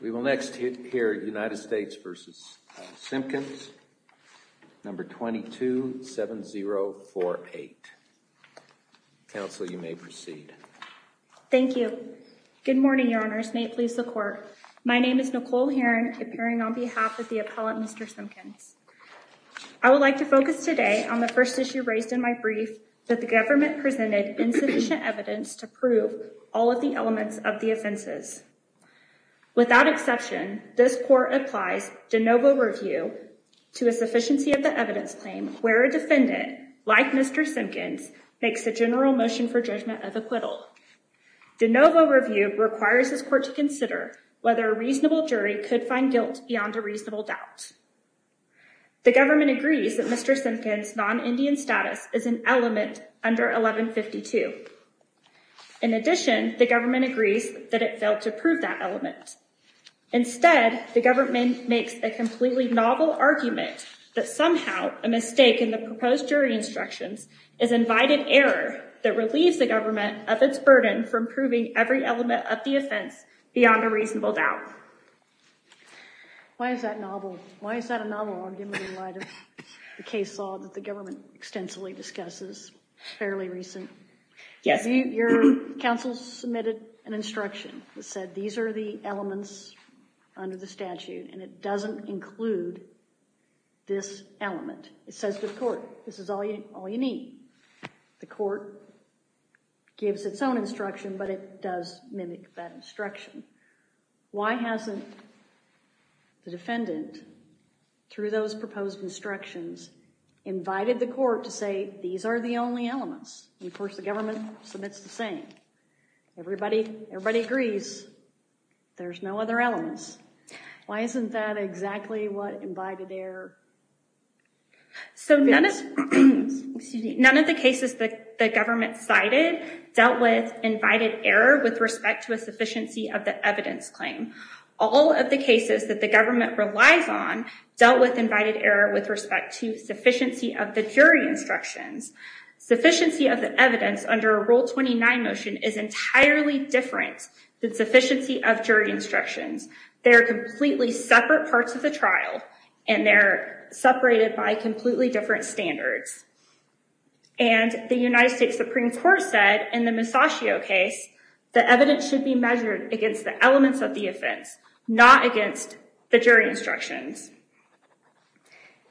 No. 227048. Council, you may proceed. Thank you. Good morning, Your Honors. May it please the Court. My name is Nicole Heron, appearing on behalf of the appellate, Mr. Simpkins. I would like to focus today on the first issue raised in my brief that the government presented insufficient evidence to prove all of the elements of the offenses. Without exception, this Court applies de novo review to a sufficiency of the evidence claim where a defendant, like Mr. Simpkins, makes a general motion for judgment of acquittal. De novo review requires this Court to consider whether a reasonable jury could find guilt beyond a reasonable doubt. The government agrees that Mr. Simpkins' non-Indian status is an element under 1152. In addition, the government agrees that it failed to prove that element. Instead, the government makes a completely novel argument that somehow a mistake in the proposed jury instructions is invited error that relieves the government of its burden from proving every element of the offense beyond a reasonable doubt. Why is that novel? Why is that novel argument in light of the case law that the government extensively discusses, fairly recent? Your counsel submitted an instruction that said these are the elements under the statute and it doesn't include this element. It says to the Court, this is all you need. The Court gives its own instruction, but it does mimic that instruction. Why hasn't the defendant through those proposed instructions invited the Court to say these are the only elements? Of course, the government submits the same. Everybody agrees there's no other elements. Why isn't that exactly what invited error? So none of the cases that the government cited dealt with invited error with respect to a sufficiency of the evidence claim. All of the cases that the government relies on dealt with invited error with respect to sufficiency of the jury instructions. Sufficiency of the evidence under a Rule 29 motion is entirely different than sufficiency of jury instructions. They are completely separate parts of the trial and they're separated by completely different standards. And the United States Supreme Court said in the Masaccio case, the evidence should be measured against the elements of the offense, not against the jury instructions.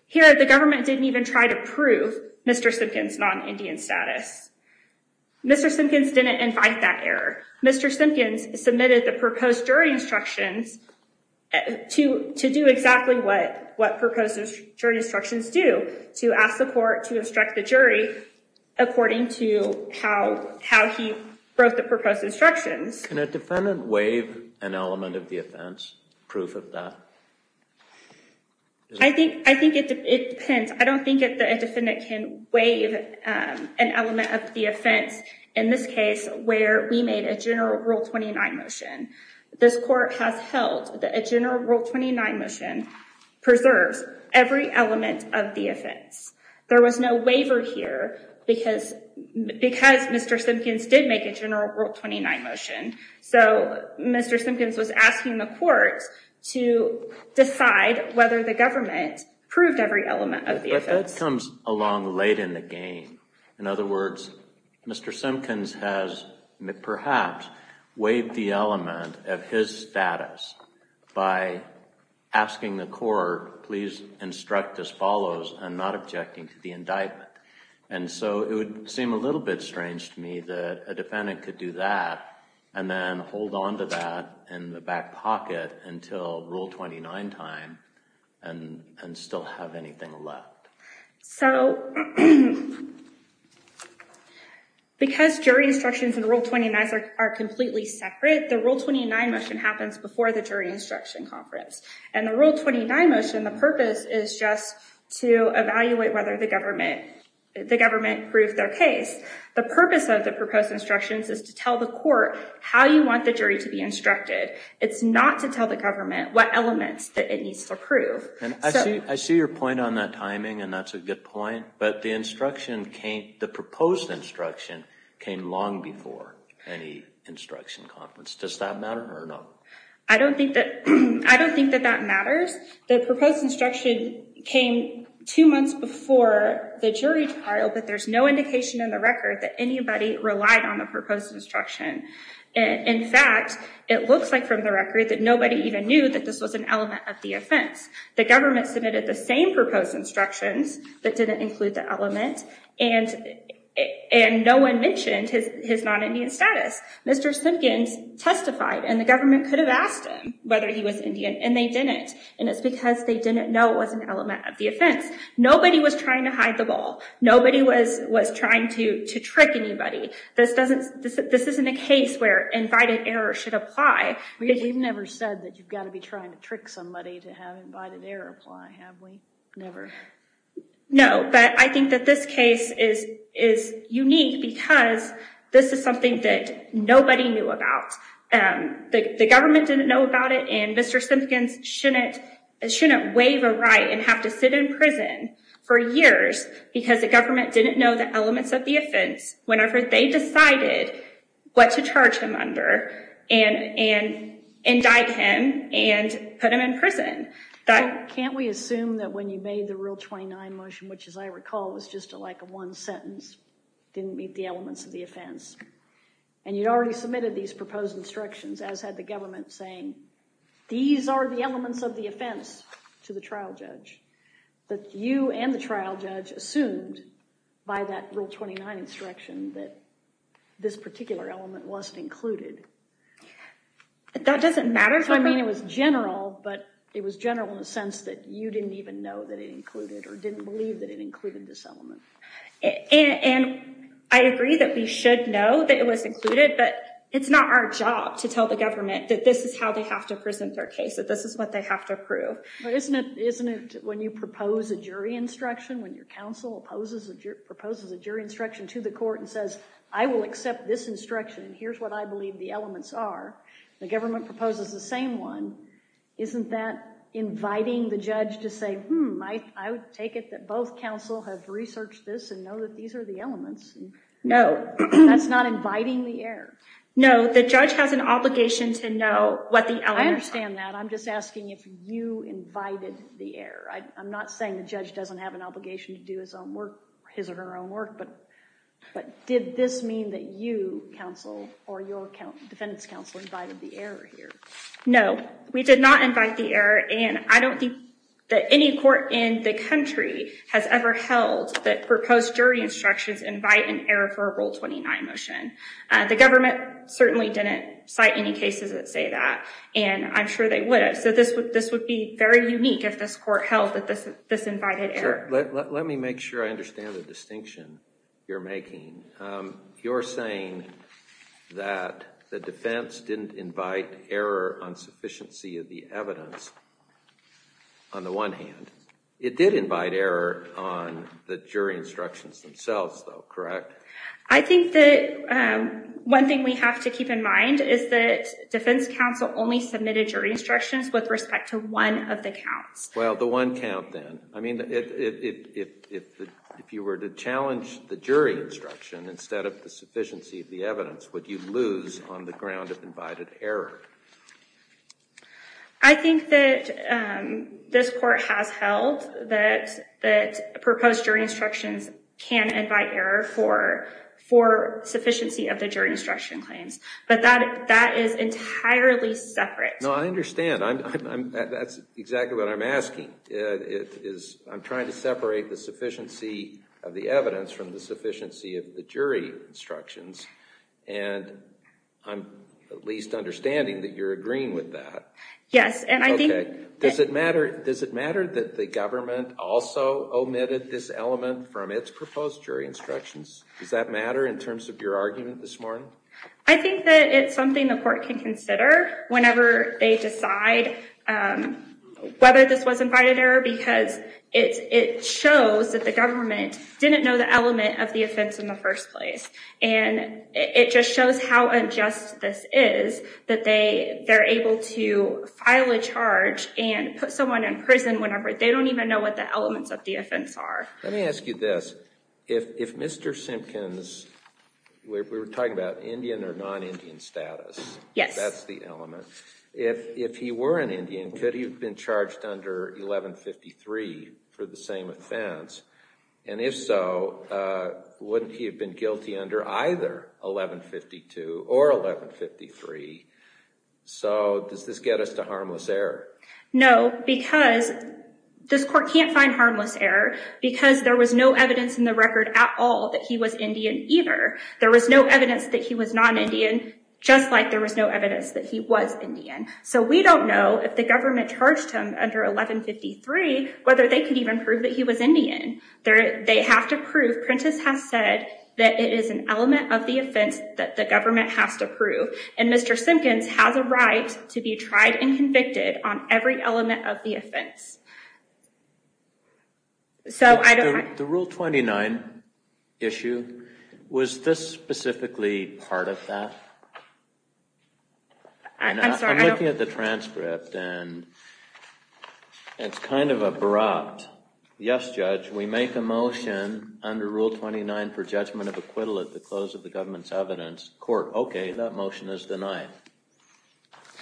Here, the government didn't even try to prove Mr. Simpkins' non-Indian status. Mr. Simpkins didn't invite that error. Mr. Simpkins submitted the proposed jury instructions to do exactly what proposed jury instructions do, to ask the Court to instruct the jury according to how he wrote the proposed instructions. Can a defendant waive an element of the offense, proof of that? I think it depends. I don't think that a defendant can waive an element of the offense in this case where we made a general Rule 29 motion. This Court has held that a general Rule 29 motion preserves every element of the offense. There was no waiver here because Mr. Simpkins did make a general Rule 29 motion. So Mr. Simpkins was asking the Court to decide whether the government proved every element of the offense. But that comes along late in the game. In other words, Mr. Simpkins has perhaps waived the element of his status by asking the Court, please instruct as follows and not objecting to the indictment. And so it would seem a little bit strange to me that a defendant could do that and then hold on to that in the back pocket until Rule 29 time and still have anything left. So because jury instructions and Rule 29 are completely separate, the Rule 29 motion happens before the jury instruction conference. And the Rule 29 motion, the purpose is just to evaluate whether the government proved their case. The purpose of the proposed instructions is to tell the Court how you want the jury to be instructed. It's not to tell the government what elements that needs to prove. And I see your point on that timing and that's a good point. But the instruction came, the proposed instruction came long before any instruction conference. Does that matter or not? I don't think that, I don't think that that matters. The proposed instruction came two months before the jury trial, but there's no indication in the record that anybody relied on the proposed instruction. In fact, it looks like from the record that nobody even knew that this was an element of the offense. The government submitted the same proposed instructions that didn't include the element and no one mentioned his non-Indian status. Mr. Simpkins testified and the government could have asked him whether he was Indian and they didn't. And it's because they didn't know it was an element of the offense. Nobody was trying to hide the ball. Nobody was trying to trick anybody. This isn't a case where invited error should apply. We've never said that you've to have invited error apply, have we? Never. No, but I think that this case is unique because this is something that nobody knew about. The government didn't know about it and Mr. Simpkins shouldn't wave a right and have to sit in prison for years because the government didn't know the elements of the offense whenever they decided what to charge him under and indict him and put him in prison. Can't we assume that when you made the Rule 29 motion, which as I recall was just like a one sentence, didn't meet the elements of the offense and you'd already submitted these proposed instructions as had the government saying these are the elements of the offense to the trial judge, that you and the trial judge assumed by that Rule 29 instruction that this particular element wasn't included? That doesn't matter. I mean it was general, but it was general in the sense that you didn't even know that it included or didn't believe that it included this element. And I agree that we should know that it was included, but it's not our job to tell the government that this is how they have to present their case, that this is what they have to prove. But isn't it when you propose a jury instruction to the court and says, I will accept this instruction and here's what I believe the elements are, the government proposes the same one, isn't that inviting the judge to say, I would take it that both counsel have researched this and know that these are the elements? No, that's not inviting the error. No, the judge has an obligation to know what the elements are. I understand that. I'm just asking if you invited the error. I'm not saying the judge doesn't have an obligation to do his or her own work, but did this mean that you, counsel, or your defendant's counsel invited the error here? No, we did not invite the error and I don't think that any court in the country has ever held that proposed jury instructions invite an error for a Rule 29 motion. The government certainly didn't cite any cases that say that and I'm sure they would have. So this would be very unique if this court held that this invited error. Let me make sure I understand the distinction you're making. You're saying that the defense didn't invite error on sufficiency of the evidence on the one hand. It did invite error on the jury instructions themselves though, correct? I think that one thing we have to keep in mind is that counsel only submitted jury instructions with respect to one of the counts. Well, the one count then. I mean, if you were to challenge the jury instruction instead of the sufficiency of the evidence, would you lose on the ground of invited error? I think that this court has held that proposed jury instructions can invite error for sufficiency of the jury instruction claims, but that is entirely separate. No, I understand. That's exactly what I'm asking. I'm trying to separate the sufficiency of the evidence from the sufficiency of the jury instructions and I'm at least understanding that you're agreeing with that. Yes. Does it matter that the government also omitted this element from its proposed jury instructions? Does that matter in terms of your argument this morning? I think that it's something the court can consider whenever they decide whether this was invited error because it shows that the government didn't know the element of the offense in the first place. And it just shows how unjust this is that they're able to file a charge and put someone in prison whenever they don't even know the elements of the offense are. Let me ask you this. If Mr. Simpkins, we were talking about Indian or non-Indian status. Yes. That's the element. If he were an Indian, could he have been charged under 1153 for the same offense? And if so, wouldn't he have been guilty under either 1152 or 1153? So does this get us to harmless error? No, because this court can't find harmless error because there was no evidence in the record at all that he was Indian either. There was no evidence that he was non-Indian just like there was no evidence that he was Indian. So we don't know if the government charged him under 1153 whether they could even prove that he was Indian. They have to prove, Prentiss has said, that it is an element of the offense that the government has to prove. And Mr. Simpkins has a right to be tried and convicted on every element of the offense. The Rule 29 issue, was this specifically part of that? I'm sorry. I'm looking at the transcript and it's kind of abrupt. Yes, Judge, we make a motion under Rule 29 for judgment of acquittal at the close of the government's evidence court. Okay, that motion is denied.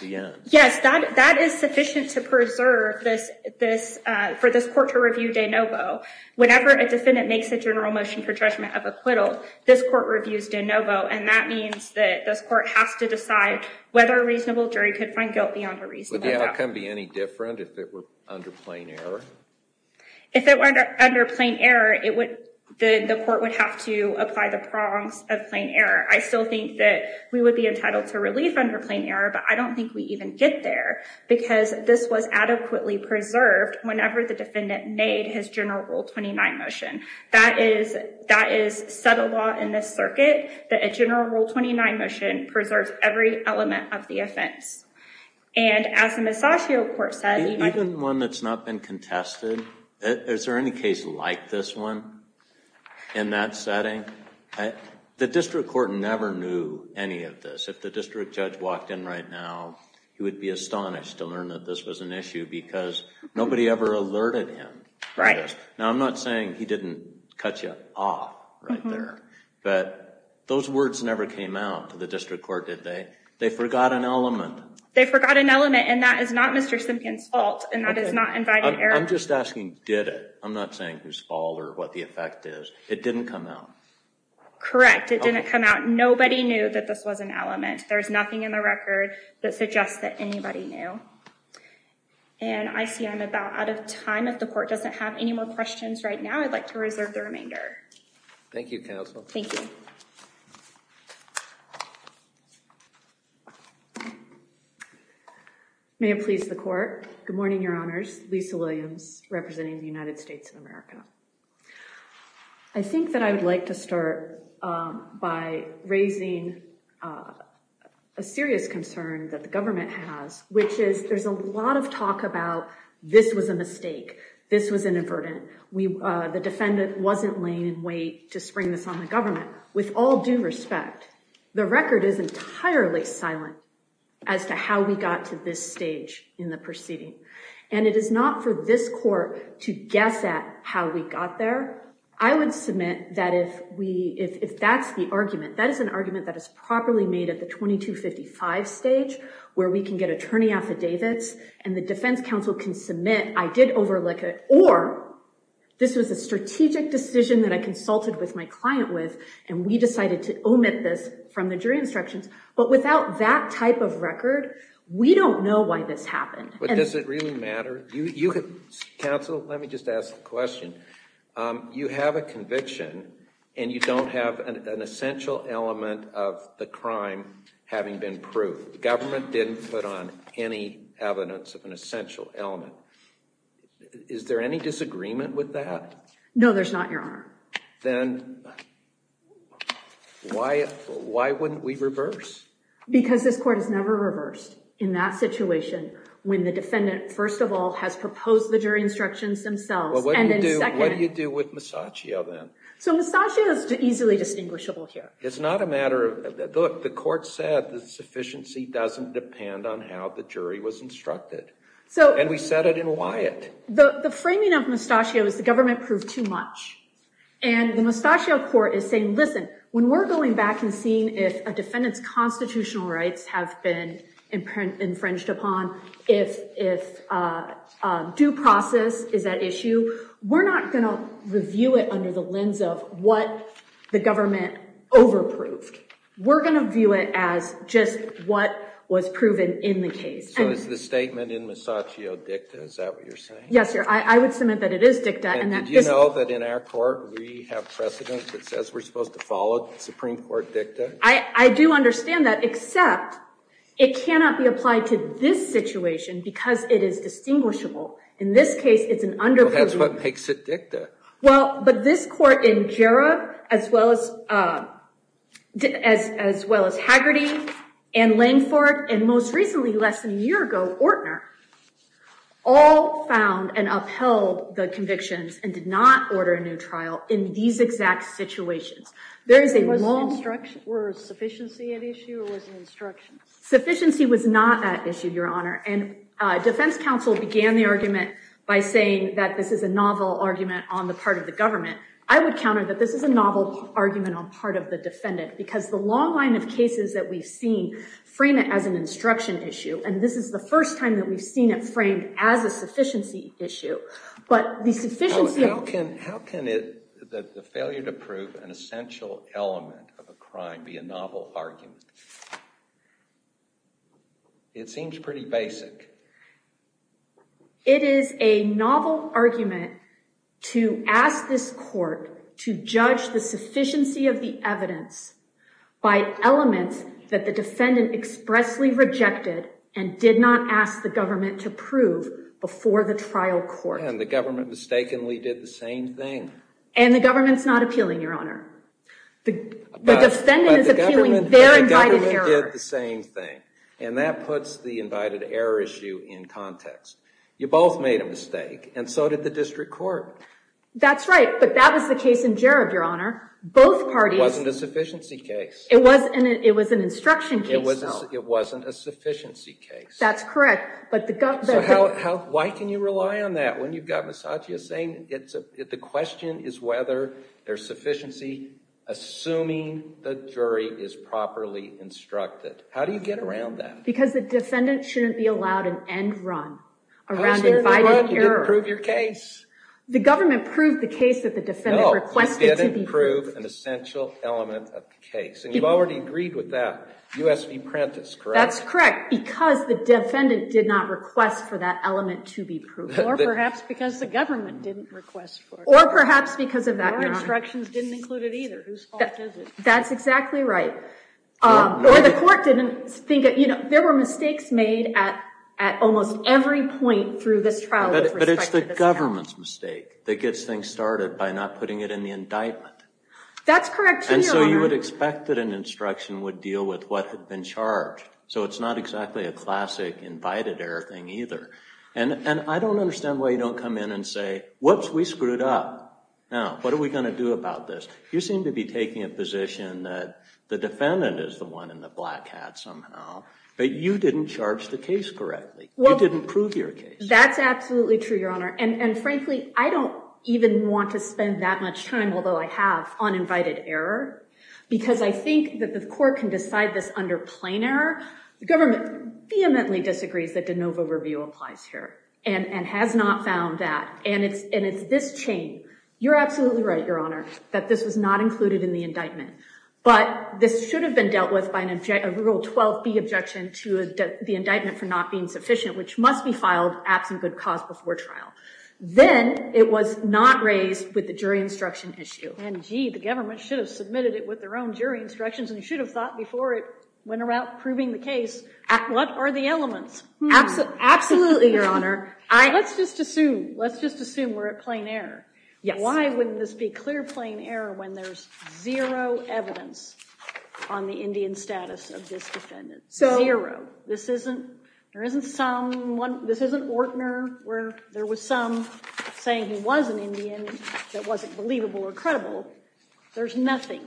The end. Yes, that is sufficient to preserve this, for this court to review de novo. Whenever a defendant makes a general motion for judgment of acquittal, this court reviews de novo and that means that this court has to decide whether a reasonable jury could find guilt beyond a reasonable doubt. Would the outcome be any different if it were under plain error? If it were under plain error, the court would have to apply the prongs of plain error. I still think that we would be entitled to relief under plain error, but I don't think we even get there because this was adequately preserved whenever the defendant made his general Rule 29 motion. That is, that is said a lot in this circuit, that a general Rule 29 motion preserves every element of the offense. And as the Massachio Court said, even one that's not been contested, is there any case like this one in that setting? The district court never knew any of this. If the district judge walked in right now, he would be astonished to learn that this was an issue because nobody ever alerted him. Right. Now, I'm not saying he didn't cut you off right there, but those words never came out to the district court, did they? They forgot an element. They forgot an element and that is not Mr. Simpkin's fault and that is not invited error. I'm just asking, did it? I'm not saying whose fault or what the effect is. It didn't come out. Correct, it didn't come out. Nobody knew that this was an element. There's nothing in the record that suggests that anybody knew. And I see I'm about out of time. If the court doesn't have any more questions right now, I'd like to reserve the remainder. Thank you, counsel. Thank you. May it please the court. Good morning, your honors. Lisa Williams, representing the United States of America. I think that I would like to start by raising a serious concern that the government has, which is there's a lot of talk about this was a mistake. This was inadvertent. The defendant wasn't laying in wait to spring this on the government. With all due respect, the record is entirely silent as to how we got to this stage in the proceeding. And it is not for this court to guess at how we got there. I would submit that if that's the argument, that is an argument that is properly made at the 2255 stage, where we can get attorney affidavits and the defense counsel can submit, I did overlook it, or this was a strategic decision that I consulted with my client with, and we decided to omit this from the jury instructions. But without that type of record, we don't know why this happened. But does it really matter? You have, counsel, let me just ask the question. You have a conviction and you don't have an essential element of the crime having been proved. The government didn't put on any evidence of an essential element. Is there any disagreement with that? No, there's not, your honor. Then why, why wouldn't we reverse? Because this court has never reversed in that situation when the counsel has proposed the jury instructions themselves. What do you do with Moustachio then? So Moustachio is easily distinguishable here. It's not a matter of, look, the court said the sufficiency doesn't depend on how the jury was instructed. And we said it in Wyatt. The framing of Moustachio is the government proved too much. And the Moustachio court is saying, listen, when we're going back and seeing if a defendant's constitutional rights have been infringed upon, if due process is at issue, we're not going to review it under the lens of what the government over-proved. We're going to view it as just what was proven in the case. So is the statement in Moustachio dicta? Is that what you're saying? Yes, your honor. I would submit that it is dicta. And do you know that in our court we have precedent that says we're supposed to follow Supreme Court dicta? I do understand that, except it cannot be applied to this situation because it is distinguishable. In this case, it's an under-proved- That's what makes it dicta. Well, but this court in Jarrah, as well as Haggerty, and Langford, and most recently, less than a year ago, Ortner, all found and upheld the convictions and did not order a new trial in these exact situations. There is a long- Was sufficiency at issue or was it instruction? Sufficiency was not at issue, your honor. And defense counsel began the argument by saying that this is a novel argument on the part of the government. I would counter that this is a novel argument on part of the defendant because the long line of cases that we've seen frame it as an instruction issue. And this is the first time that we've seen it framed as a sufficiency issue. But the sufficiency- How can the failure to prove an essential element of a crime be a novel argument? It seems pretty basic. It is a novel argument to ask this court to judge the sufficiency of the evidence by elements that the defendant expressly rejected and did not ask the government to prove before the trial court. The government mistakenly did the same thing. And the government's not appealing, your honor. The defendant is appealing their invited error. The government did the same thing. And that puts the invited error issue in context. You both made a mistake, and so did the district court. That's right, but that was the case in Jareb, your honor. Both parties- It wasn't a sufficiency case. It was an instruction case, though. It wasn't a sufficiency case. That's correct. So why can you rely on that when you've got Nassajia saying the question is whether there's sufficiency assuming the jury is properly instructed? How do you get around that? Because the defendant shouldn't be allowed an end run around the invited error. You didn't prove your case. The government proved the case that the defendant requested to be proved. No, you didn't prove an essential element of the case. And you've already agreed with that. US v. Prentiss, correct? That's correct, because the defendant did not request for that element to be proved. Or perhaps because the government didn't request for it. Or perhaps because of that, your honor. Your instructions didn't include it either. Whose fault is it? That's exactly right. Or the court didn't think- There were mistakes made at almost every point through this trial with respect to this case. But it's the government's mistake that gets things started by not putting it in the indictment. That's correct, too, your honor. And so you would expect that an instruction would deal with what had been charged. So it's not exactly a classic invited error thing either. And I don't understand why you don't come in and say, whoops, we screwed up. Now, what are we going to do about this? You seem to be taking a position that the defendant is the one in the black hat somehow. But you didn't charge the case correctly. You didn't prove your case. That's absolutely true, your honor. And frankly, I don't even want to spend that much time, although I have, on invited error. Because I think that the court can decide this under plain error. The government vehemently disagrees that de novo review applies here and has not found that. And it's this chain. You're absolutely right, your honor, that this was not included in the indictment. But this should have been dealt with by a Rule 12b objection to the indictment for not being sufficient, which must be filed absent good cause before trial. Then it was not raised with the jury instruction issue. And gee, the government should have submitted it with their own jury instructions. And they should have thought before it went about proving the case, what are the elements? Absolutely, your honor. Let's just assume. Let's just assume we're at plain error. Why wouldn't this be clear plain error when there's zero evidence on the Indian status of this defendant? Zero. This isn't Ortner where there was some saying he was an Indian that wasn't believable or there's nothing.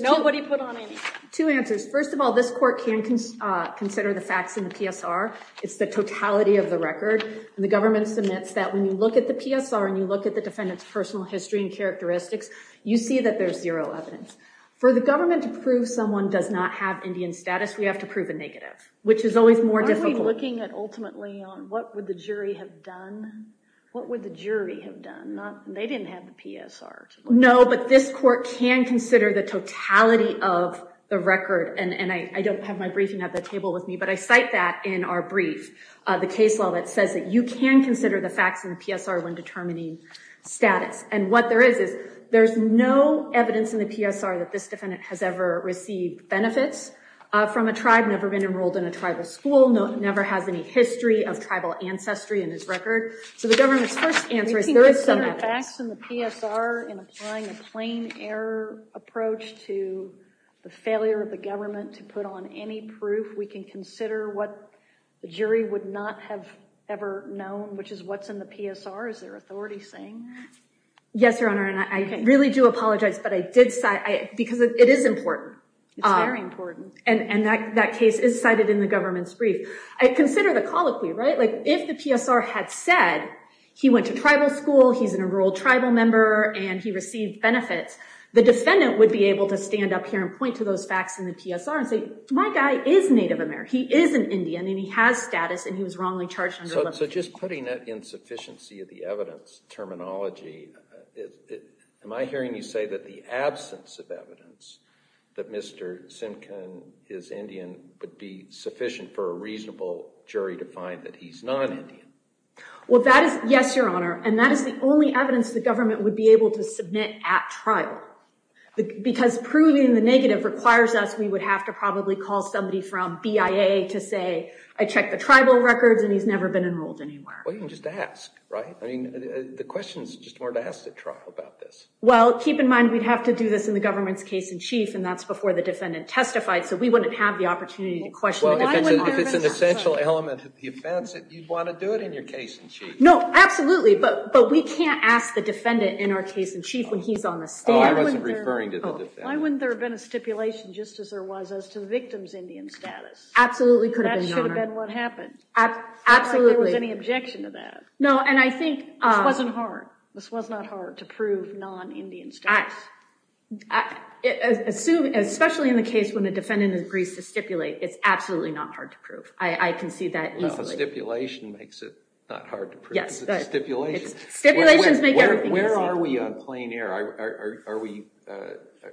Nobody put on any. Two answers. First of all, this court can consider the facts in the PSR. It's the totality of the record. And the government submits that when you look at the PSR and you look at the defendant's personal history and characteristics, you see that there's zero evidence. For the government to prove someone does not have Indian status, we have to prove a negative, which is always more difficult. Aren't we looking at ultimately on what would the jury have done? What would the jury have done? They didn't have the PSR. No, but this court can consider the totality of the record. And I don't have my briefing at the table with me, but I cite that in our brief. The case law that says that you can consider the facts in the PSR when determining status. And what there is, is there's no evidence in the PSR that this defendant has ever received benefits from a tribe, never been enrolled in a tribal school, never has any history of tribal ancestry in his record. So the government's first answer is there is some evidence. Facts in the PSR in applying a plain error approach to the failure of the government to put on any proof, we can consider what the jury would not have ever known, which is what's in the PSR. Is there authority saying that? Yes, Your Honor, and I really do apologize, but I did cite, because it is important. It's very important. And that case is cited in the government's brief. I consider the colloquy, right? If the PSR had said he went to tribal school, he's an enrolled tribal member, and he received benefits, the defendant would be able to stand up here and point to those facts in the PSR and say, my guy is Native American. He is an Indian, and he has status, and he was wrongly charged under the law. So just putting that insufficiency of the evidence terminology, am I hearing you say that the absence of evidence, that Mr. Simkin is Indian, would be sufficient for a reasonable jury to find that he's non-Indian? Well, that is, yes, Your Honor, and that is the only evidence the government would be able to submit at trial, because proving the negative requires us, we would have to probably call somebody from BIA to say, I checked the tribal records, and he's never been enrolled anywhere. Well, you can just ask, right? I mean, the question is just more to ask at trial about this. Well, keep in mind, we'd have to do this in the government's case in chief, and that's before the defendant testified, so we wouldn't have the opportunity to question the defendant. If it's an essential element of the offense, you'd want to do it in your case in chief. No, absolutely, but we can't ask the defendant in our case in chief when he's on the stand. Oh, I wasn't referring to the defendant. Why wouldn't there have been a stipulation, just as there was, as to the victim's Indian status? Absolutely could have been, Your Honor. That should have been what happened. Absolutely. It's not like there was any objection to that. No, and I think— This wasn't hard. This was not hard to prove non-Indian status. I assume, especially in the case when the defendant agrees to stipulate, it's absolutely not hard to prove. I can see that easily. Stipulation makes it not hard to prove. Yes. Stipulations. Stipulations make everything easier. Where are we on plain air?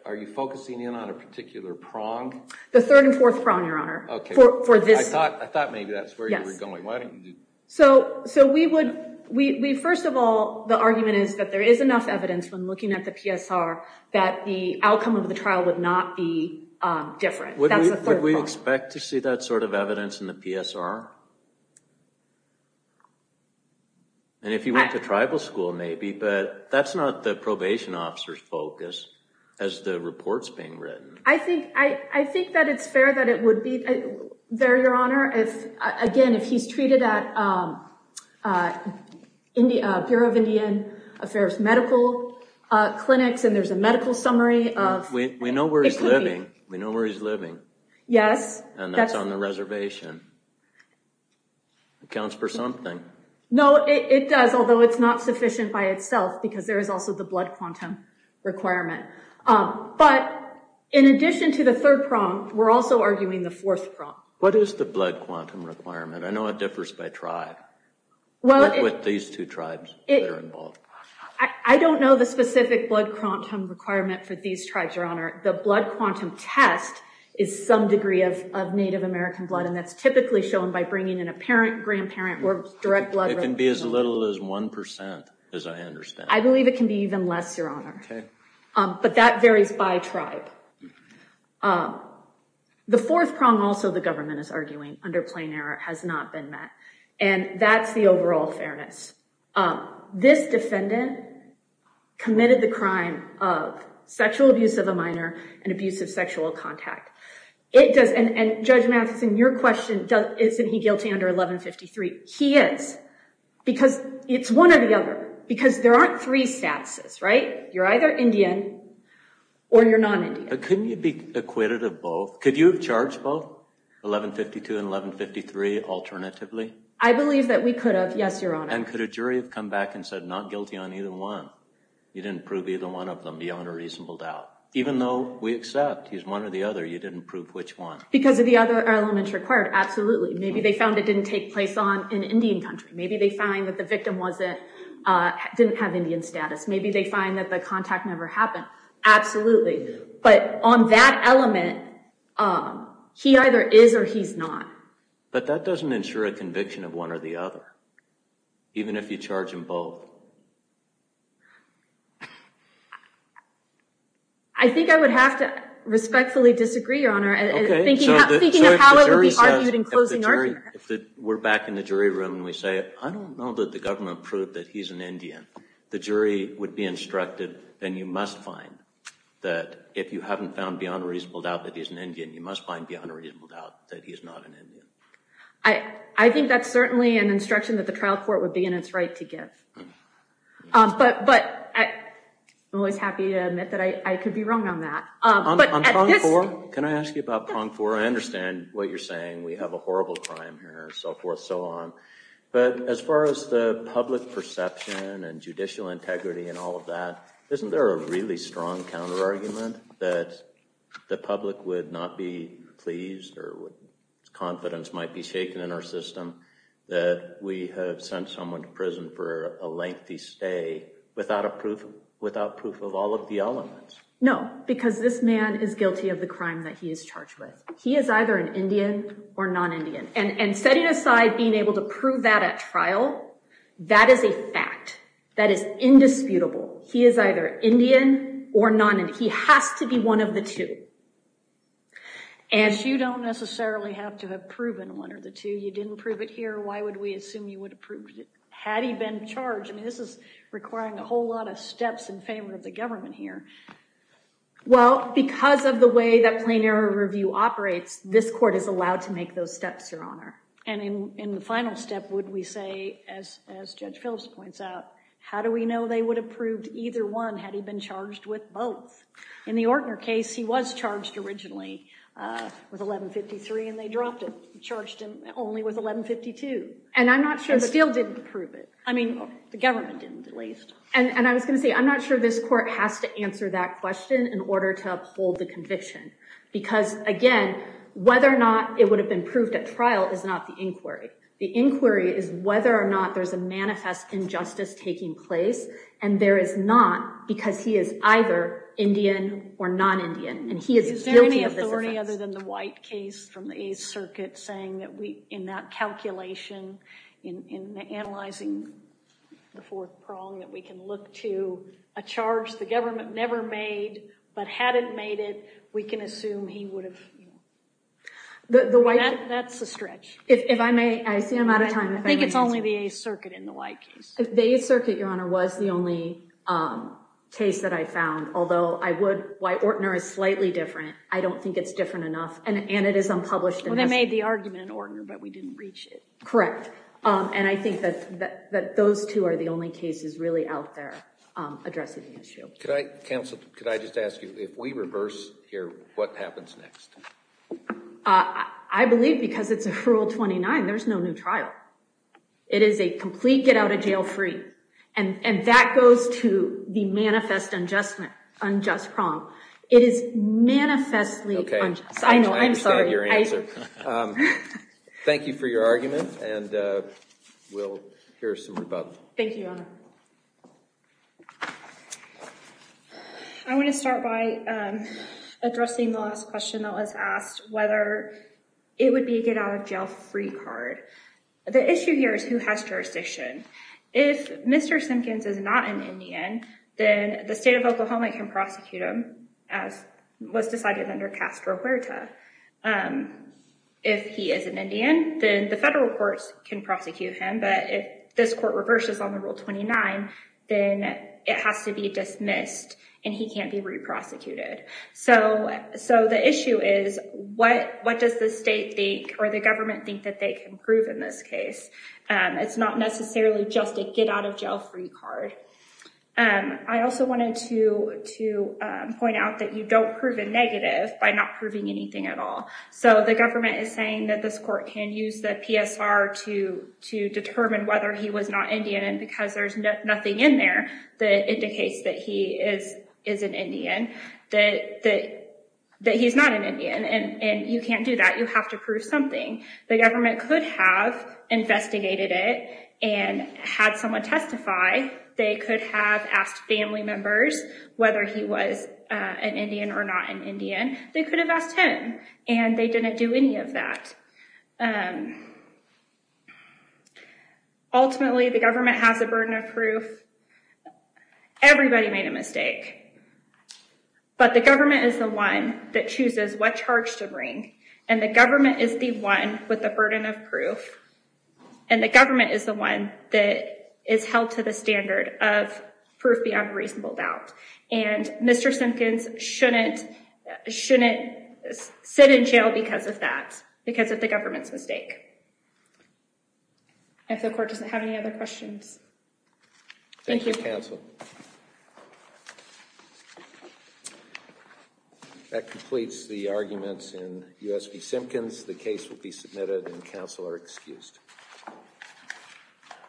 Are you focusing in on a particular prong? The third and fourth prong, Your Honor. OK. For this— I thought maybe that's where you were going. Why don't you do— So we would— First of all, the argument is that there is enough evidence, when looking at the PSR, that the outcome of the trial would not be different. That's the third prong. Would we expect to see that sort of evidence in the PSR? And if you went to tribal school, maybe. But that's not the probation officer's focus, as the report's being written. I think that it's fair that it would be there, Your Honor. Again, if he's treated at Bureau of Indian Affairs medical clinics, and there's a medical summary of— We know where he's living. We know where he's living. Yes. And that's on the reservation. Accounts for something. No, it does, although it's not sufficient by itself, because there is also the blood quantum requirement. But in addition to the third prong, we're also arguing the fourth prong. What is the blood quantum requirement? I know it differs by tribe. What with these two tribes that are involved? I don't know the specific blood quantum requirement for these tribes, Your Honor. The blood quantum test is some degree of Native American blood, and that's typically shown by bringing in a parent, grandparent, or direct blood— It can be as little as 1%, as I understand. I believe it can be even less, Your Honor. Okay. But that varies by tribe. The fourth prong, also, the government is arguing under plain error has not been met, and that's the overall fairness. This defendant committed the crime of sexual abuse of a minor and abuse of sexual contact. And Judge Matheson, your question, isn't he guilty under 1153? He is, because it's one or the other, because there aren't three statuses, right? You're either Indian or you're non-Indian. Couldn't you be acquitted of both? Could you have charged both, 1152 and 1153, alternatively? I believe that we could have, yes, Your Honor. And could a jury have come back and said, not guilty on either one? You didn't prove either one of them, beyond a reasonable doubt. Even though we accept he's one or the other, you didn't prove which one? Because of the other elements required, absolutely. Maybe they found it didn't take place in Indian country. Maybe they find that the victim didn't have Indian status. Maybe they find that the contact never happened. Absolutely. But on that element, he either is or he's not. But that doesn't ensure a conviction of one or the other, even if you charge them both. I think I would have to respectfully disagree, Your Honor, thinking of how it would be argued in closing order. If we're back in the jury room and we say, I don't know that the government proved that he's an Indian, the jury would be instructed, then you must find that, if you haven't found beyond a reasonable doubt that he's an Indian, you must find beyond a reasonable doubt that he is not an Indian. I think that's certainly an instruction that the trial court would be in its right to give. But I'm always happy to admit that I could be wrong on that. Can I ask you about prong four? I understand what you're saying. We have a horrible crime here, so forth, so on. But as far as the public perception and judicial integrity and all of that, isn't there a really strong counter-argument that the public would not be pleased or confidence might be shaken in our system that we have sent someone to prison for a lengthy stay without proof of all of the elements? No, because this man is guilty of the crime that he is charged with. He is either an Indian or non-Indian. And setting aside being able to prove that at trial, that is a fact. That is indisputable. He is either Indian or non-Indian. He has to be one of the two. And you don't necessarily have to have proven one or the two. You didn't prove it here. Why would we assume you would have proved it had he been charged? I mean, this is requiring a whole lot of steps in favor of the government here. Well, because of the way that plain error review operates, this court is allowed to make those steps, Your Honor. And in the final step, would we say, as Judge Phillips points out, how do we know they would have proved either one had he been charged with both? In the Ortner case, he was charged originally with 1153, and they dropped it. They charged him only with 1152. And I'm not sure that— And still didn't prove it. I mean, the government didn't, at least. And I was going to say, I'm not sure this court has to answer that question in order to uphold the conviction. Because, again, whether or not it would have been proved at trial is not the inquiry. The inquiry is whether or not there's a manifest injustice taking place. And there is not, because he is either Indian or non-Indian. And he is guilty of this offense. Is there any authority other than the White case from the Eighth Circuit saying that in that calculation, in analyzing the fourth prong, that we can look to a charge the government never made, but hadn't made it, we can assume he would have, you know— The White— That's a stretch. If I may, I see I'm out of time. I think it's only the Eighth Circuit in the White case. The Eighth Circuit, Your Honor, was the only case that I found. Although I would— Why Ortner is slightly different, I don't think it's different enough. And it is unpublished. Well, they made the argument in Ortner, but we didn't reach it. Correct. And I think that those two are the only cases really out there addressing the issue. Counsel, could I just ask you, if we reverse here, what happens next? I believe because it's a Rule 29, there's no new trial. It is a complete get-out-of-jail-free. And that goes to the manifest unjust prong. It is manifestly— Okay, I understand your answer. Thank you for your argument, and we'll hear some rebuttal. Thank you, Your Honor. I want to start by addressing the last question that was asked, whether it would be a get-out-of-jail-free card. The issue here is who has jurisdiction. If Mr. Simpkins is not an Indian, then the state of Oklahoma can prosecute him, as was decided under Castro Huerta. If he is an Indian, then the federal courts can prosecute him. But if this court reverses on the Rule 29, then it has to be dismissed, and he can't be re-prosecuted. So the issue is, what does the state think, or the government think, that they can prove in this case? It's not necessarily just a get-out-of-jail-free card. I also wanted to point out that you don't prove a negative by not proving anything at all. So the government is saying that this court can use the PSR to determine whether he was not Indian, because there's nothing in there that indicates that he is an Indian, that he's not an Indian. And you can't do that. You have to prove something. The government could have investigated it and had someone testify. They could have asked family members whether he was an Indian or not an Indian. They could have asked him. And they didn't do any of that. Ultimately, the government has the burden of proof. Everybody made a mistake. But the government is the one that chooses what charge to bring. And the government is the one with the burden of proof. And the government is the one that is held to the standard of proof beyond reasonable doubt. And Mr. Simpkins shouldn't sit in jail because of that, because of the government's mistake. If the court doesn't have any other questions. Thank you, counsel. That completes the arguments in U.S. v. Simpkins. The case will be submitted and counsel are excused.